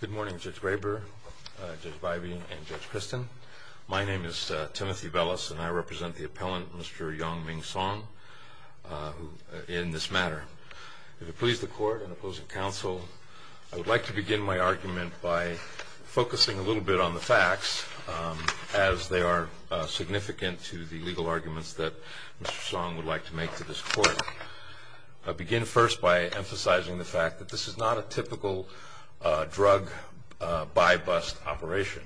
Good morning, Judge Braber, Judge Bybee, and Judge Christin. My name is Timothy Bellis, and I represent the appellant, Mr. Yong Ming Song, in this matter. If it please the court and opposing counsel, I would like to begin my argument by focusing a little bit on the facts, as they are significant to the legal arguments that Mr. Song would like to make to this court. I'll begin first by emphasizing the fact that this is not a typical drug buy-bust operation.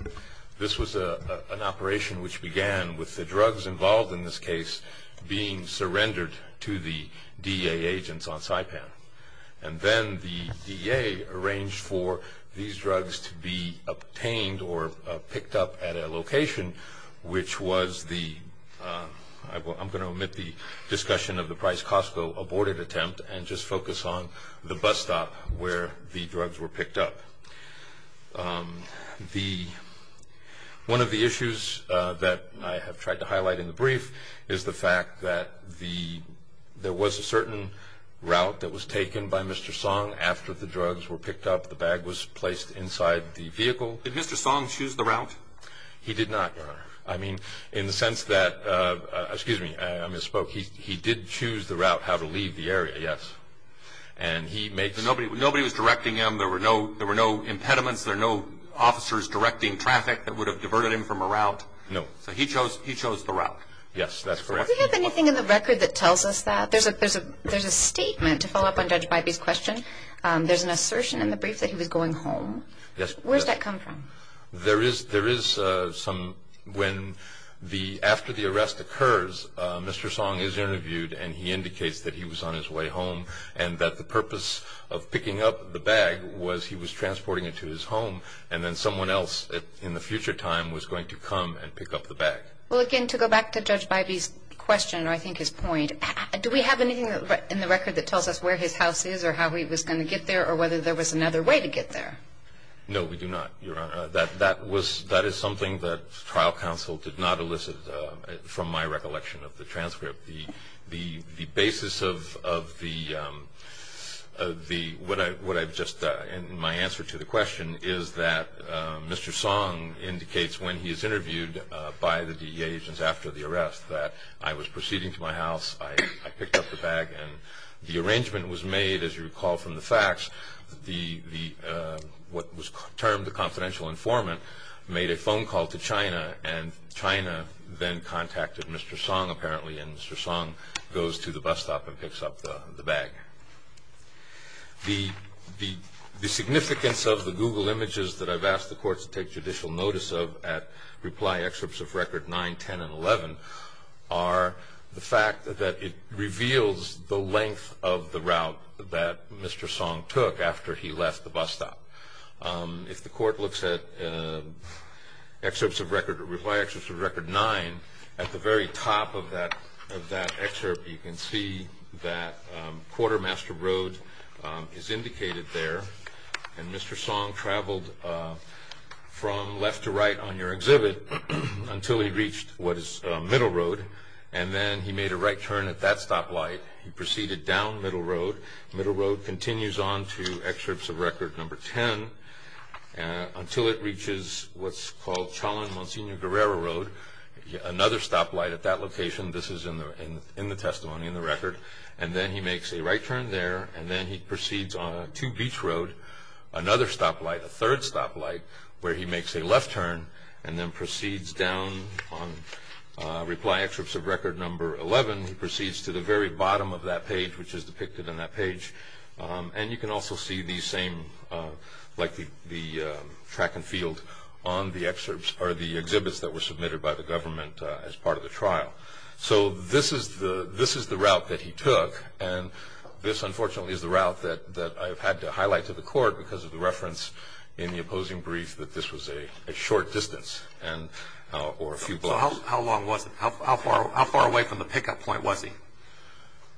This was an operation which began with the drugs involved in this case being surrendered to the DEA agents on Saipan. And then the DEA arranged for these drugs to be obtained or picked up at a location, which was the, I'm going to omit the discussion of the Price-Costco aborted attempt and just focus on the bus stop where the drugs were picked up. One of the issues that I have tried to highlight in the brief is the fact that there was a certain route that was taken by Mr. Song after the drugs were picked up, the bag was placed inside the vehicle. He did not, Your Honor. I mean, in the sense that, excuse me, I misspoke. He did choose the route, how to leave the area, yes. Nobody was directing him. There were no impediments. There were no officers directing traffic that would have diverted him from a route. No. So he chose the route. Yes, that's correct. Do we have anything in the record that tells us that? There's a statement to follow up on Judge Bybee's question. There's an assertion in the brief that he was going home. Yes. Where does that come from? There is some when after the arrest occurs, Mr. Song is interviewed and he indicates that he was on his way home and that the purpose of picking up the bag was he was transporting it to his home and then someone else in the future time was going to come and pick up the bag. Well, again, to go back to Judge Bybee's question, or I think his point, do we have anything in the record that tells us where his house is or how he was going to get there or whether there was another way to get there? No, we do not, Your Honor. That is something that trial counsel did not elicit from my recollection of the transcript. The basis of what I've just done in my answer to the question is that Mr. Song indicates when he is interviewed by the DEA agents after the arrest that I was proceeding to my house, I picked up the bag, and the arrangement was made, as you recall from the facts, what was termed the confidential informant made a phone call to China and China then contacted Mr. Song apparently and Mr. Song goes to the bus stop and picks up the bag. The significance of the Google images that I've asked the courts to take judicial notice of at Reply Excerpts of Record 9, 10, and 11 are the fact that it reveals the length of the route that Mr. Song took after he left the bus stop. If the court looks at Reply Excerpts of Record 9, at the very top of that excerpt you can see that until he reached what is Middle Road and then he made a right turn at that stoplight. He proceeded down Middle Road. Middle Road continues on to Excerpts of Record No. 10 until it reaches what's called Chalon-Monsignor-Guerrero Road, another stoplight at that location. This is in the testimony, in the record. And then he makes a right turn there and then he proceeds on to Beach Road, another stoplight, a third stoplight where he makes a left turn and then proceeds down on Reply Excerpts of Record No. 11. He proceeds to the very bottom of that page which is depicted on that page. And you can also see the same, like the track and field on the excerpts or the exhibits that were submitted by the government as part of the trial. So this is the route that he took and this unfortunately is the route that I've had to highlight to the court because of the reference in the opposing brief that this was a short distance or a few blocks. So how long was it? How far away from the pickup point was he?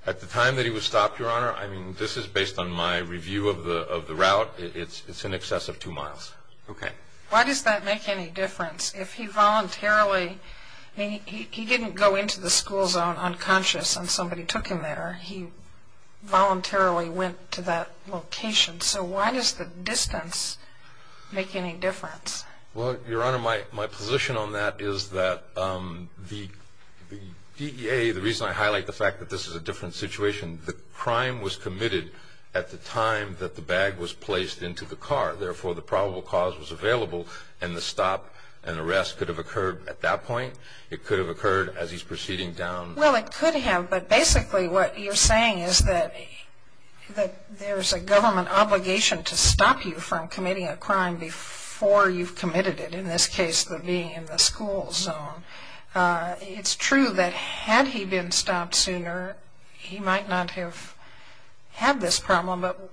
At the time that he was stopped, Your Honor, I mean this is based on my review of the route. It's in excess of two miles. Okay. Why does that make any difference? If he voluntarily, he didn't go into the school zone unconscious and somebody took him there. He voluntarily went to that location. So why does the distance make any difference? Well, Your Honor, my position on that is that the DEA, the reason I highlight the fact that this is a different situation, the crime was committed at the time that the bag was placed into the car. Therefore, the probable cause was available and the stop and arrest could have occurred at that point. It could have occurred as he's proceeding down. Well, it could have, but basically what you're saying is that there's a government obligation to stop you from committing a crime before you've committed it, in this case being in the school zone. It's true that had he been stopped sooner, he might not have had this problem, but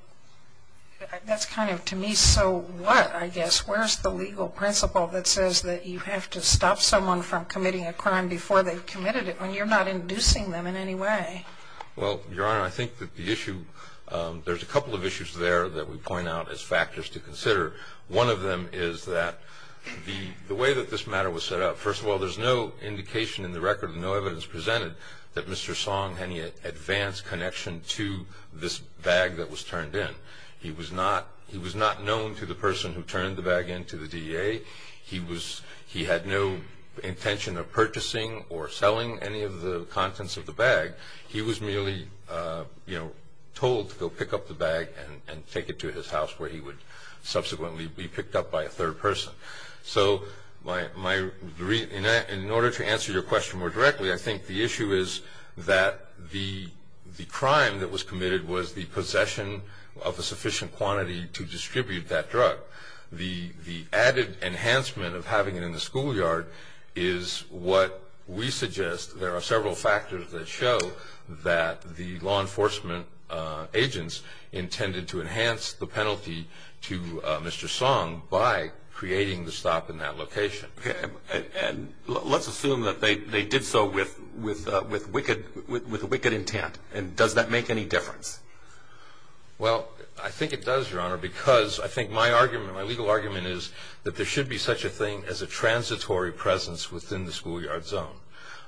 that's kind of to me so what, I guess. Where's the legal principle that says that you have to stop someone from committing a crime before they've committed it when you're not inducing them in any way? Well, Your Honor, I think that the issue, there's a couple of issues there that we point out as factors to consider. One of them is that the way that this matter was set up, first of all, there's no indication in the record, no evidence presented that Mr. Song had any advanced connection to this bag that was turned in. He was not known to the person who turned the bag into the DEA. He had no intention of purchasing or selling any of the contents of the bag. He was merely told to go pick up the bag and take it to his house where he would subsequently be picked up by a third person. So in order to answer your question more directly, I think the issue is that the crime that was committed was the possession of a sufficient quantity to distribute that drug. The added enhancement of having it in the schoolyard is what we suggest. There are several factors that show that the law enforcement agents intended to enhance the penalty to Mr. Song by creating the stop in that location. Okay. And let's assume that they did so with wicked intent. And does that make any difference? Well, I think it does, Your Honor, because I think my argument, my legal argument, is that there should be such a thing as a transitory presence within the schoolyard zone.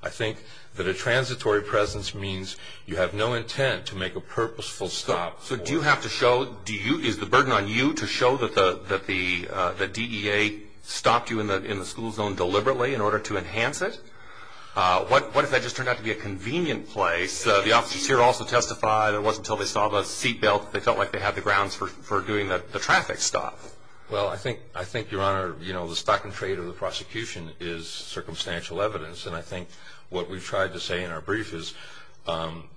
I think that a transitory presence means you have no intent to make a purposeful stop. So do you have to show, is the burden on you to show that the DEA stopped you in the school zone deliberately in order to enhance it? What if that just turned out to be a convenient place? The officers here also testified it wasn't until they saw the seatbelt, they felt like they had the grounds for doing the traffic stop. Well, I think, Your Honor, you know, the stock and trade of the prosecution is circumstantial evidence. And I think what we've tried to say in our brief is,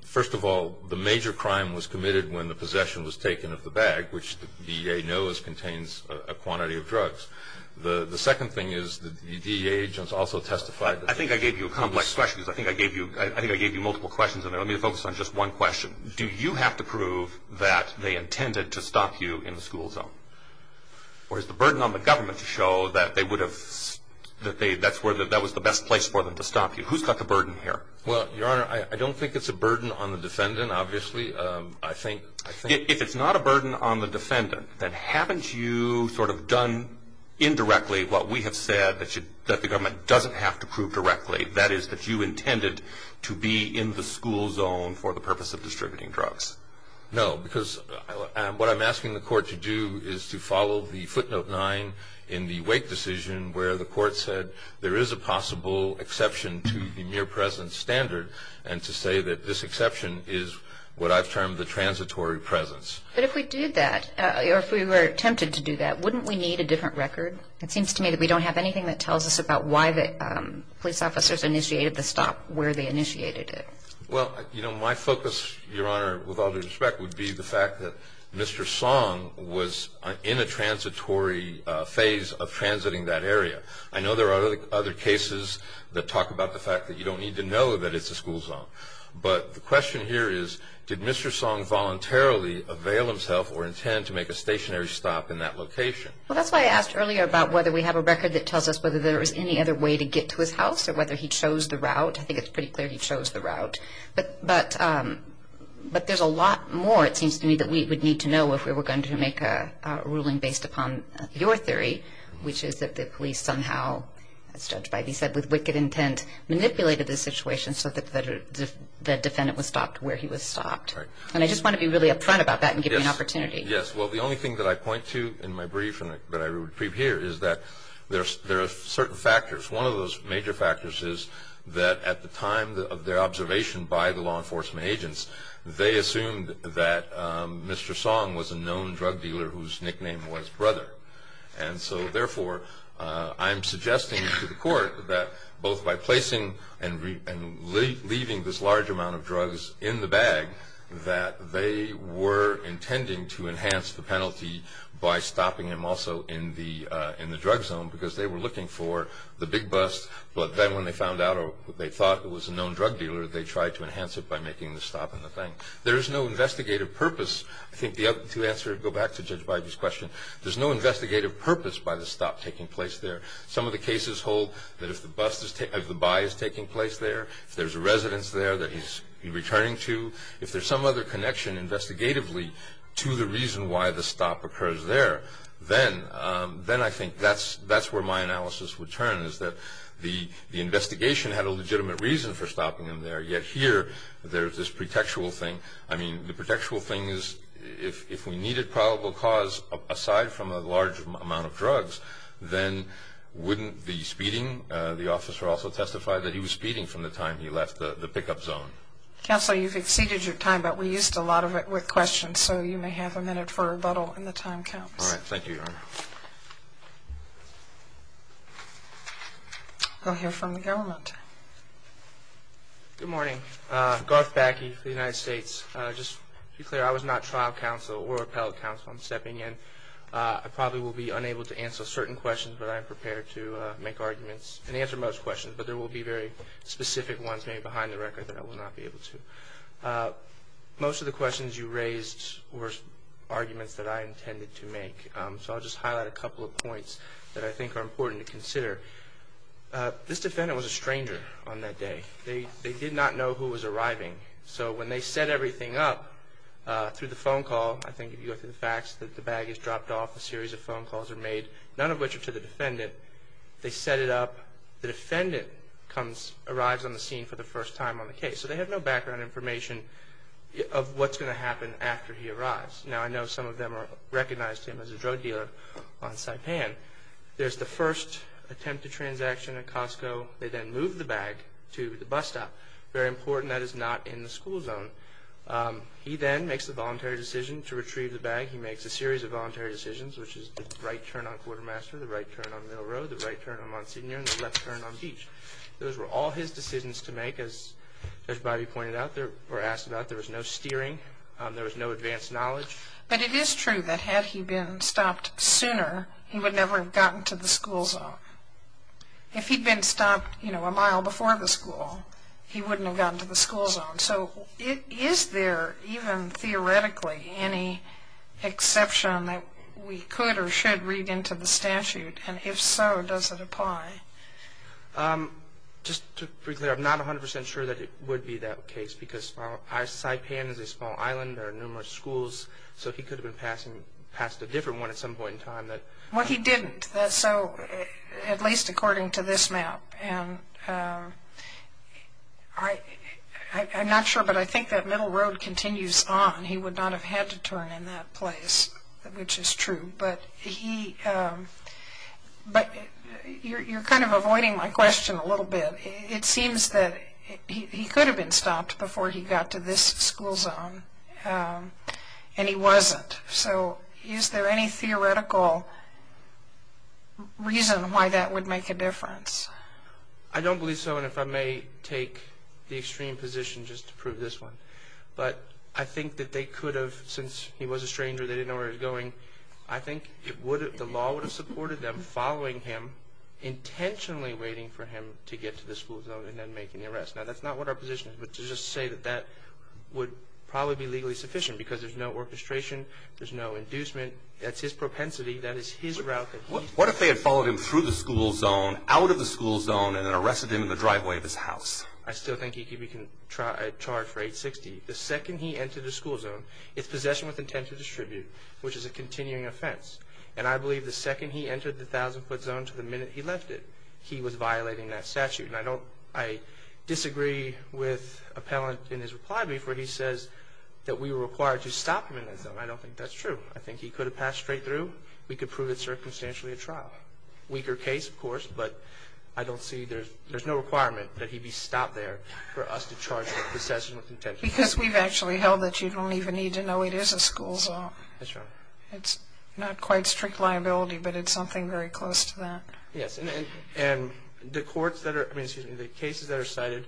first of all, the major crime was committed when the possession was taken of the bag, which the DEA knows contains a quantity of drugs. The second thing is the DEA agents also testified. I think I gave you complex questions. I think I gave you multiple questions, and I'm going to focus on just one question. Do you have to prove that they intended to stop you in the school zone? Or is the burden on the government to show that they would have, that was the best place for them to stop you? Who's got the burden here? Well, Your Honor, I don't think it's a burden on the defendant, obviously. If it's not a burden on the defendant, then haven't you sort of done indirectly what we have said that the government doesn't have to prove directly, that is that you intended to be in the school zone for the purpose of distributing drugs? No, because what I'm asking the court to do is to follow the footnote 9 in the Wake decision where the court said there is a possible exception to the mere presence standard and to say that this exception is what I've termed the transitory presence. But if we did that, or if we were tempted to do that, wouldn't we need a different record? It seems to me that we don't have anything that tells us about why the police officers initiated the stop, where they initiated it. Well, you know, my focus, Your Honor, with all due respect, would be the fact that Mr. Song was in a transitory phase of transiting that area. I know there are other cases that talk about the fact that you don't need to know that it's a school zone, but the question here is did Mr. Song voluntarily avail himself or intend to make a stationary stop in that location? Well, that's why I asked earlier about whether we have a record that tells us whether there was any other way to get to his house or whether he chose the route. I think it's pretty clear he chose the route. But there's a lot more, it seems to me, that we would need to know if we were going to make a ruling based upon your theory, which is that the police somehow, as judged by these, said with wicked intent, manipulated the situation so that the defendant was stopped where he was stopped. And I just want to be really upfront about that and give you an opportunity. Yes. Well, the only thing that I point to in my brief that I repeat here is that there are certain factors. One of those major factors is that at the time of their observation by the law enforcement agents, they assumed that Mr. Song was a known drug dealer whose nickname was Brother. And so, therefore, I'm suggesting to the court that both by placing and leaving this large amount of drugs in the bag, that they were intending to enhance the penalty by stopping him also in the drug zone because they were looking for the big bust. But then when they found out or they thought it was a known drug dealer, they tried to enhance it by making the stop in the thing. There is no investigative purpose. I think to answer, go back to Judge Beige's question, there's no investigative purpose by the stop taking place there. Some of the cases hold that if the buy is taking place there, if there's a residence there that he's returning to, if there's some other connection investigatively to the reason why the stop occurs there, then I think that's where my analysis would turn, is that the investigation had a legitimate reason for stopping him there, yet here there's this pretextual thing. I mean, the pretextual thing is if we needed probable cause aside from a large amount of drugs, then wouldn't the speeding, the officer also testified, that he was speeding from the time he left the pickup zone. Counsel, you've exceeded your time, but we used a lot of it with questions, so you may have a minute for rebuttal when the time counts. All right. Thank you, Your Honor. We'll hear from the government. Good morning. Garth Backey for the United States. Just to be clear, I was not trial counsel or appellate counsel. I'm stepping in. I probably will be unable to answer certain questions, but I am prepared to make arguments and answer most questions, but there will be very specific ones maybe behind the record that I will not be able to. Most of the questions you raised were arguments that I intended to make, so I'll just highlight a couple of points that I think are important to consider. This defendant was a stranger on that day. They did not know who was arriving, so when they set everything up through the phone call, I think if you go through the facts that the bag is dropped off, a series of phone calls are made, none of which are to the defendant. They set it up. The defendant arrives on the scene for the first time on the case, so they have no background information of what's going to happen after he arrives. Now, I know some of them recognized him as a drug dealer on Saipan. There's the first attempted transaction at Costco. They then move the bag to the bus stop. Very important. That is not in the school zone. He then makes a voluntary decision to retrieve the bag. He makes a series of voluntary decisions, which is the right turn on Quartermaster, the right turn on Mill Road, the right turn on Monsignor, and the left turn on Beach. Those were all his decisions to make. As Judge Bobby pointed out or asked about, there was no steering. There was no advanced knowledge. But it is true that had he been stopped sooner, he would never have gotten to the school zone. If he'd been stopped a mile before the school, he wouldn't have gotten to the school zone. So is there even theoretically any exception that we could or should read into the statute? And if so, does it apply? Just to be clear, I'm not 100 percent sure that it would be that case because Saipan is a small island. There are numerous schools. So he could have passed a different one at some point in time. Well, he didn't, at least according to this map. And I'm not sure, but I think that Mill Road continues on. He would not have had to turn in that place, which is true. But you're kind of avoiding my question a little bit. It seems that he could have been stopped before he got to this school zone, and he wasn't. So is there any theoretical reason why that would make a difference? I don't believe so, and if I may take the extreme position just to prove this one. But I think that they could have, since he was a stranger, they didn't know where he was going, I think the law would have supported them following him, intentionally waiting for him to get to the school zone and then making the arrest. Now, that's not what our position is, but to just say that that would probably be legally sufficient because there's no orchestration, there's no inducement, that's his propensity, that is his route. What if they had followed him through the school zone, out of the school zone, and then arrested him in the driveway of his house? I still think he could be charged for 860. The second he entered the school zone, it's possession with intent to distribute, which is a continuing offense. And I believe the second he entered the 1,000-foot zone to the minute he left it, he was violating that statute. And I disagree with Appellant in his reply before he says that we were required to stop him in that zone. I don't think that's true. I think he could have passed straight through, we could prove it circumstantially a trial. Weaker case, of course, but I don't see there's no requirement that he be stopped there for us to charge him with possession with intent. Because we've actually held that you don't even need to know it is a school zone. That's right. It's not quite strict liability, but it's something very close to that. Yes, and the cases that are cited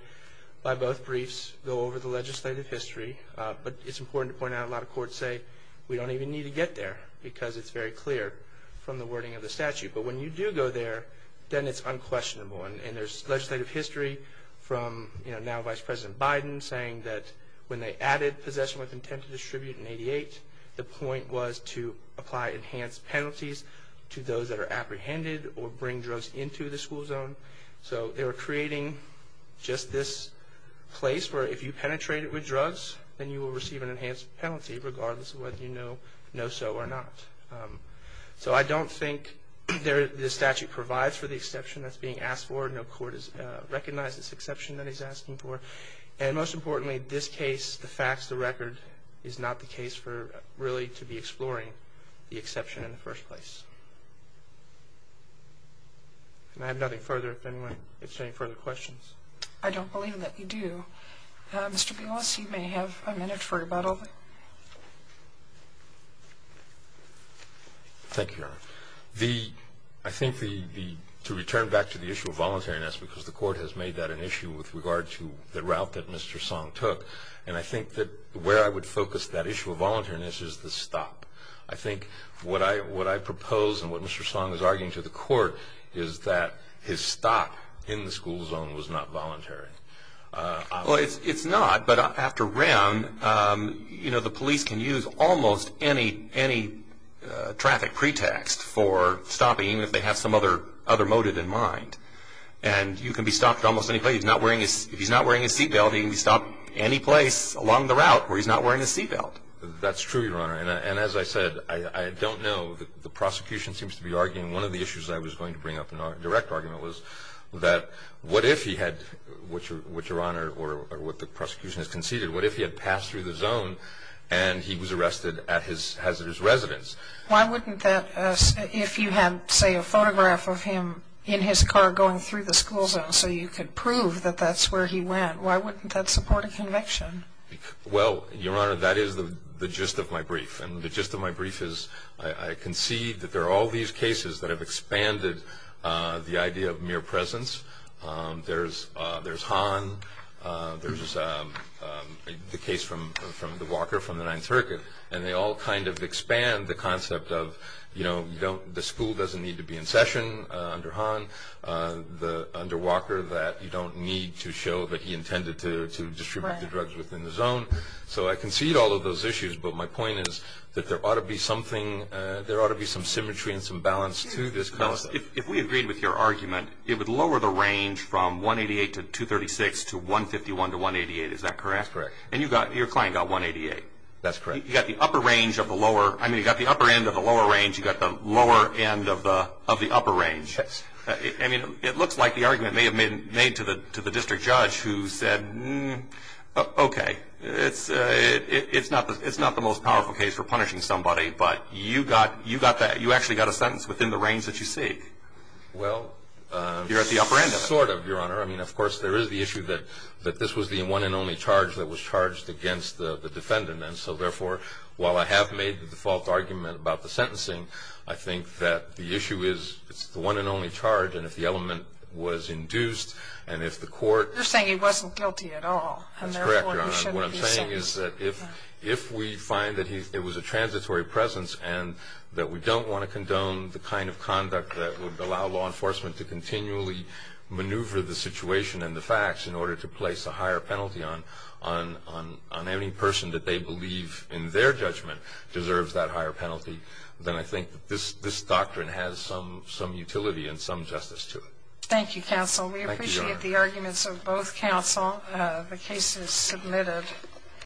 by both briefs go over the legislative history. But it's important to point out a lot of courts say we don't even need to get there because it's very clear from the wording of the statute. But when you do go there, then it's unquestionable. And there's legislative history from now Vice President Biden saying that when they added possession with intent to distribute in 88, the point was to apply enhanced penalties to those that are apprehended or bring drugs into the school zone. So they were creating just this place where if you penetrate it with drugs, then you will receive an enhanced penalty regardless of whether you know so or not. So I don't think the statute provides for the exception that's being asked for. No court has recognized this exception that he's asking for. And most importantly, this case, the facts, the record, is not the case for really to be exploring the exception in the first place. And I have nothing further if anyone has any further questions. I don't believe that you do. Mr. Beallis, you may have a minute for rebuttal. Thank you, Your Honor. I think to return back to the issue of voluntariness, because the court has made that an issue with regard to the route that Mr. Song took, and I think that where I would focus that issue of voluntariness is the stop. I think what I propose and what Mr. Song is arguing to the court is that his stop in the school zone was not voluntary. Well, it's not, but after round, you know, the police can use almost any traffic pretext for stopping, even if they have some other motive in mind. And you can be stopped at almost any place. If he's not wearing his seat belt, he can be stopped at any place along the route where he's not wearing his seat belt. That's true, Your Honor. And as I said, I don't know. The prosecution seems to be arguing one of the issues I was going to bring up in our direct argument was that what if he had, Your Honor, or what the prosecution has conceded, what if he had passed through the zone and he was arrested at his hazardous residence? Why wouldn't that, if you had, say, a photograph of him in his car going through the school zone so you could prove that that's where he went, why wouldn't that support a conviction? Well, Your Honor, that is the gist of my brief, and the gist of my brief is I concede that there are all these cases that have expanded the idea of mere presence. There's Han, there's the case from the Walker from the 9th Circuit, and they all kind of expand the concept of, you know, the school doesn't need to be in session under Han. The under Walker that you don't need to show that he intended to distribute the drugs within the zone. So I concede all of those issues, but my point is that there ought to be something, there ought to be some symmetry and some balance to this concept. If we agreed with your argument, it would lower the range from 188 to 236 to 151 to 188, is that correct? That's correct. And your client got 188. That's correct. You got the upper range of the lower, I mean, you got the upper end of the lower range, you got the lower end of the upper range. I mean, it looks like the argument may have been made to the district judge who said, okay, it's not the most powerful case for punishing somebody, but you actually got a sentence within the range that you seek. Well. You're at the upper end of it. Sort of, Your Honor. I mean, of course, there is the issue that this was the one and only charge that was charged against the defendant, and so therefore, while I have made the default argument about the sentencing, I think that the issue is it's the one and only charge, and if the element was induced, and if the court... You're saying he wasn't guilty at all. That's correct, Your Honor. And therefore, you shouldn't be saying... What I'm saying is that if we find that it was a transitory presence and that we don't want to condone the kind of conduct that would allow law enforcement to continually maneuver the situation and the facts in order to place a higher penalty on any person that they believe in their judgment deserves that higher penalty, then I think that this doctrine has some utility and some justice to it. Thank you, counsel. Thank you, Your Honor. We appreciate the arguments of both counsel. The case is submitted.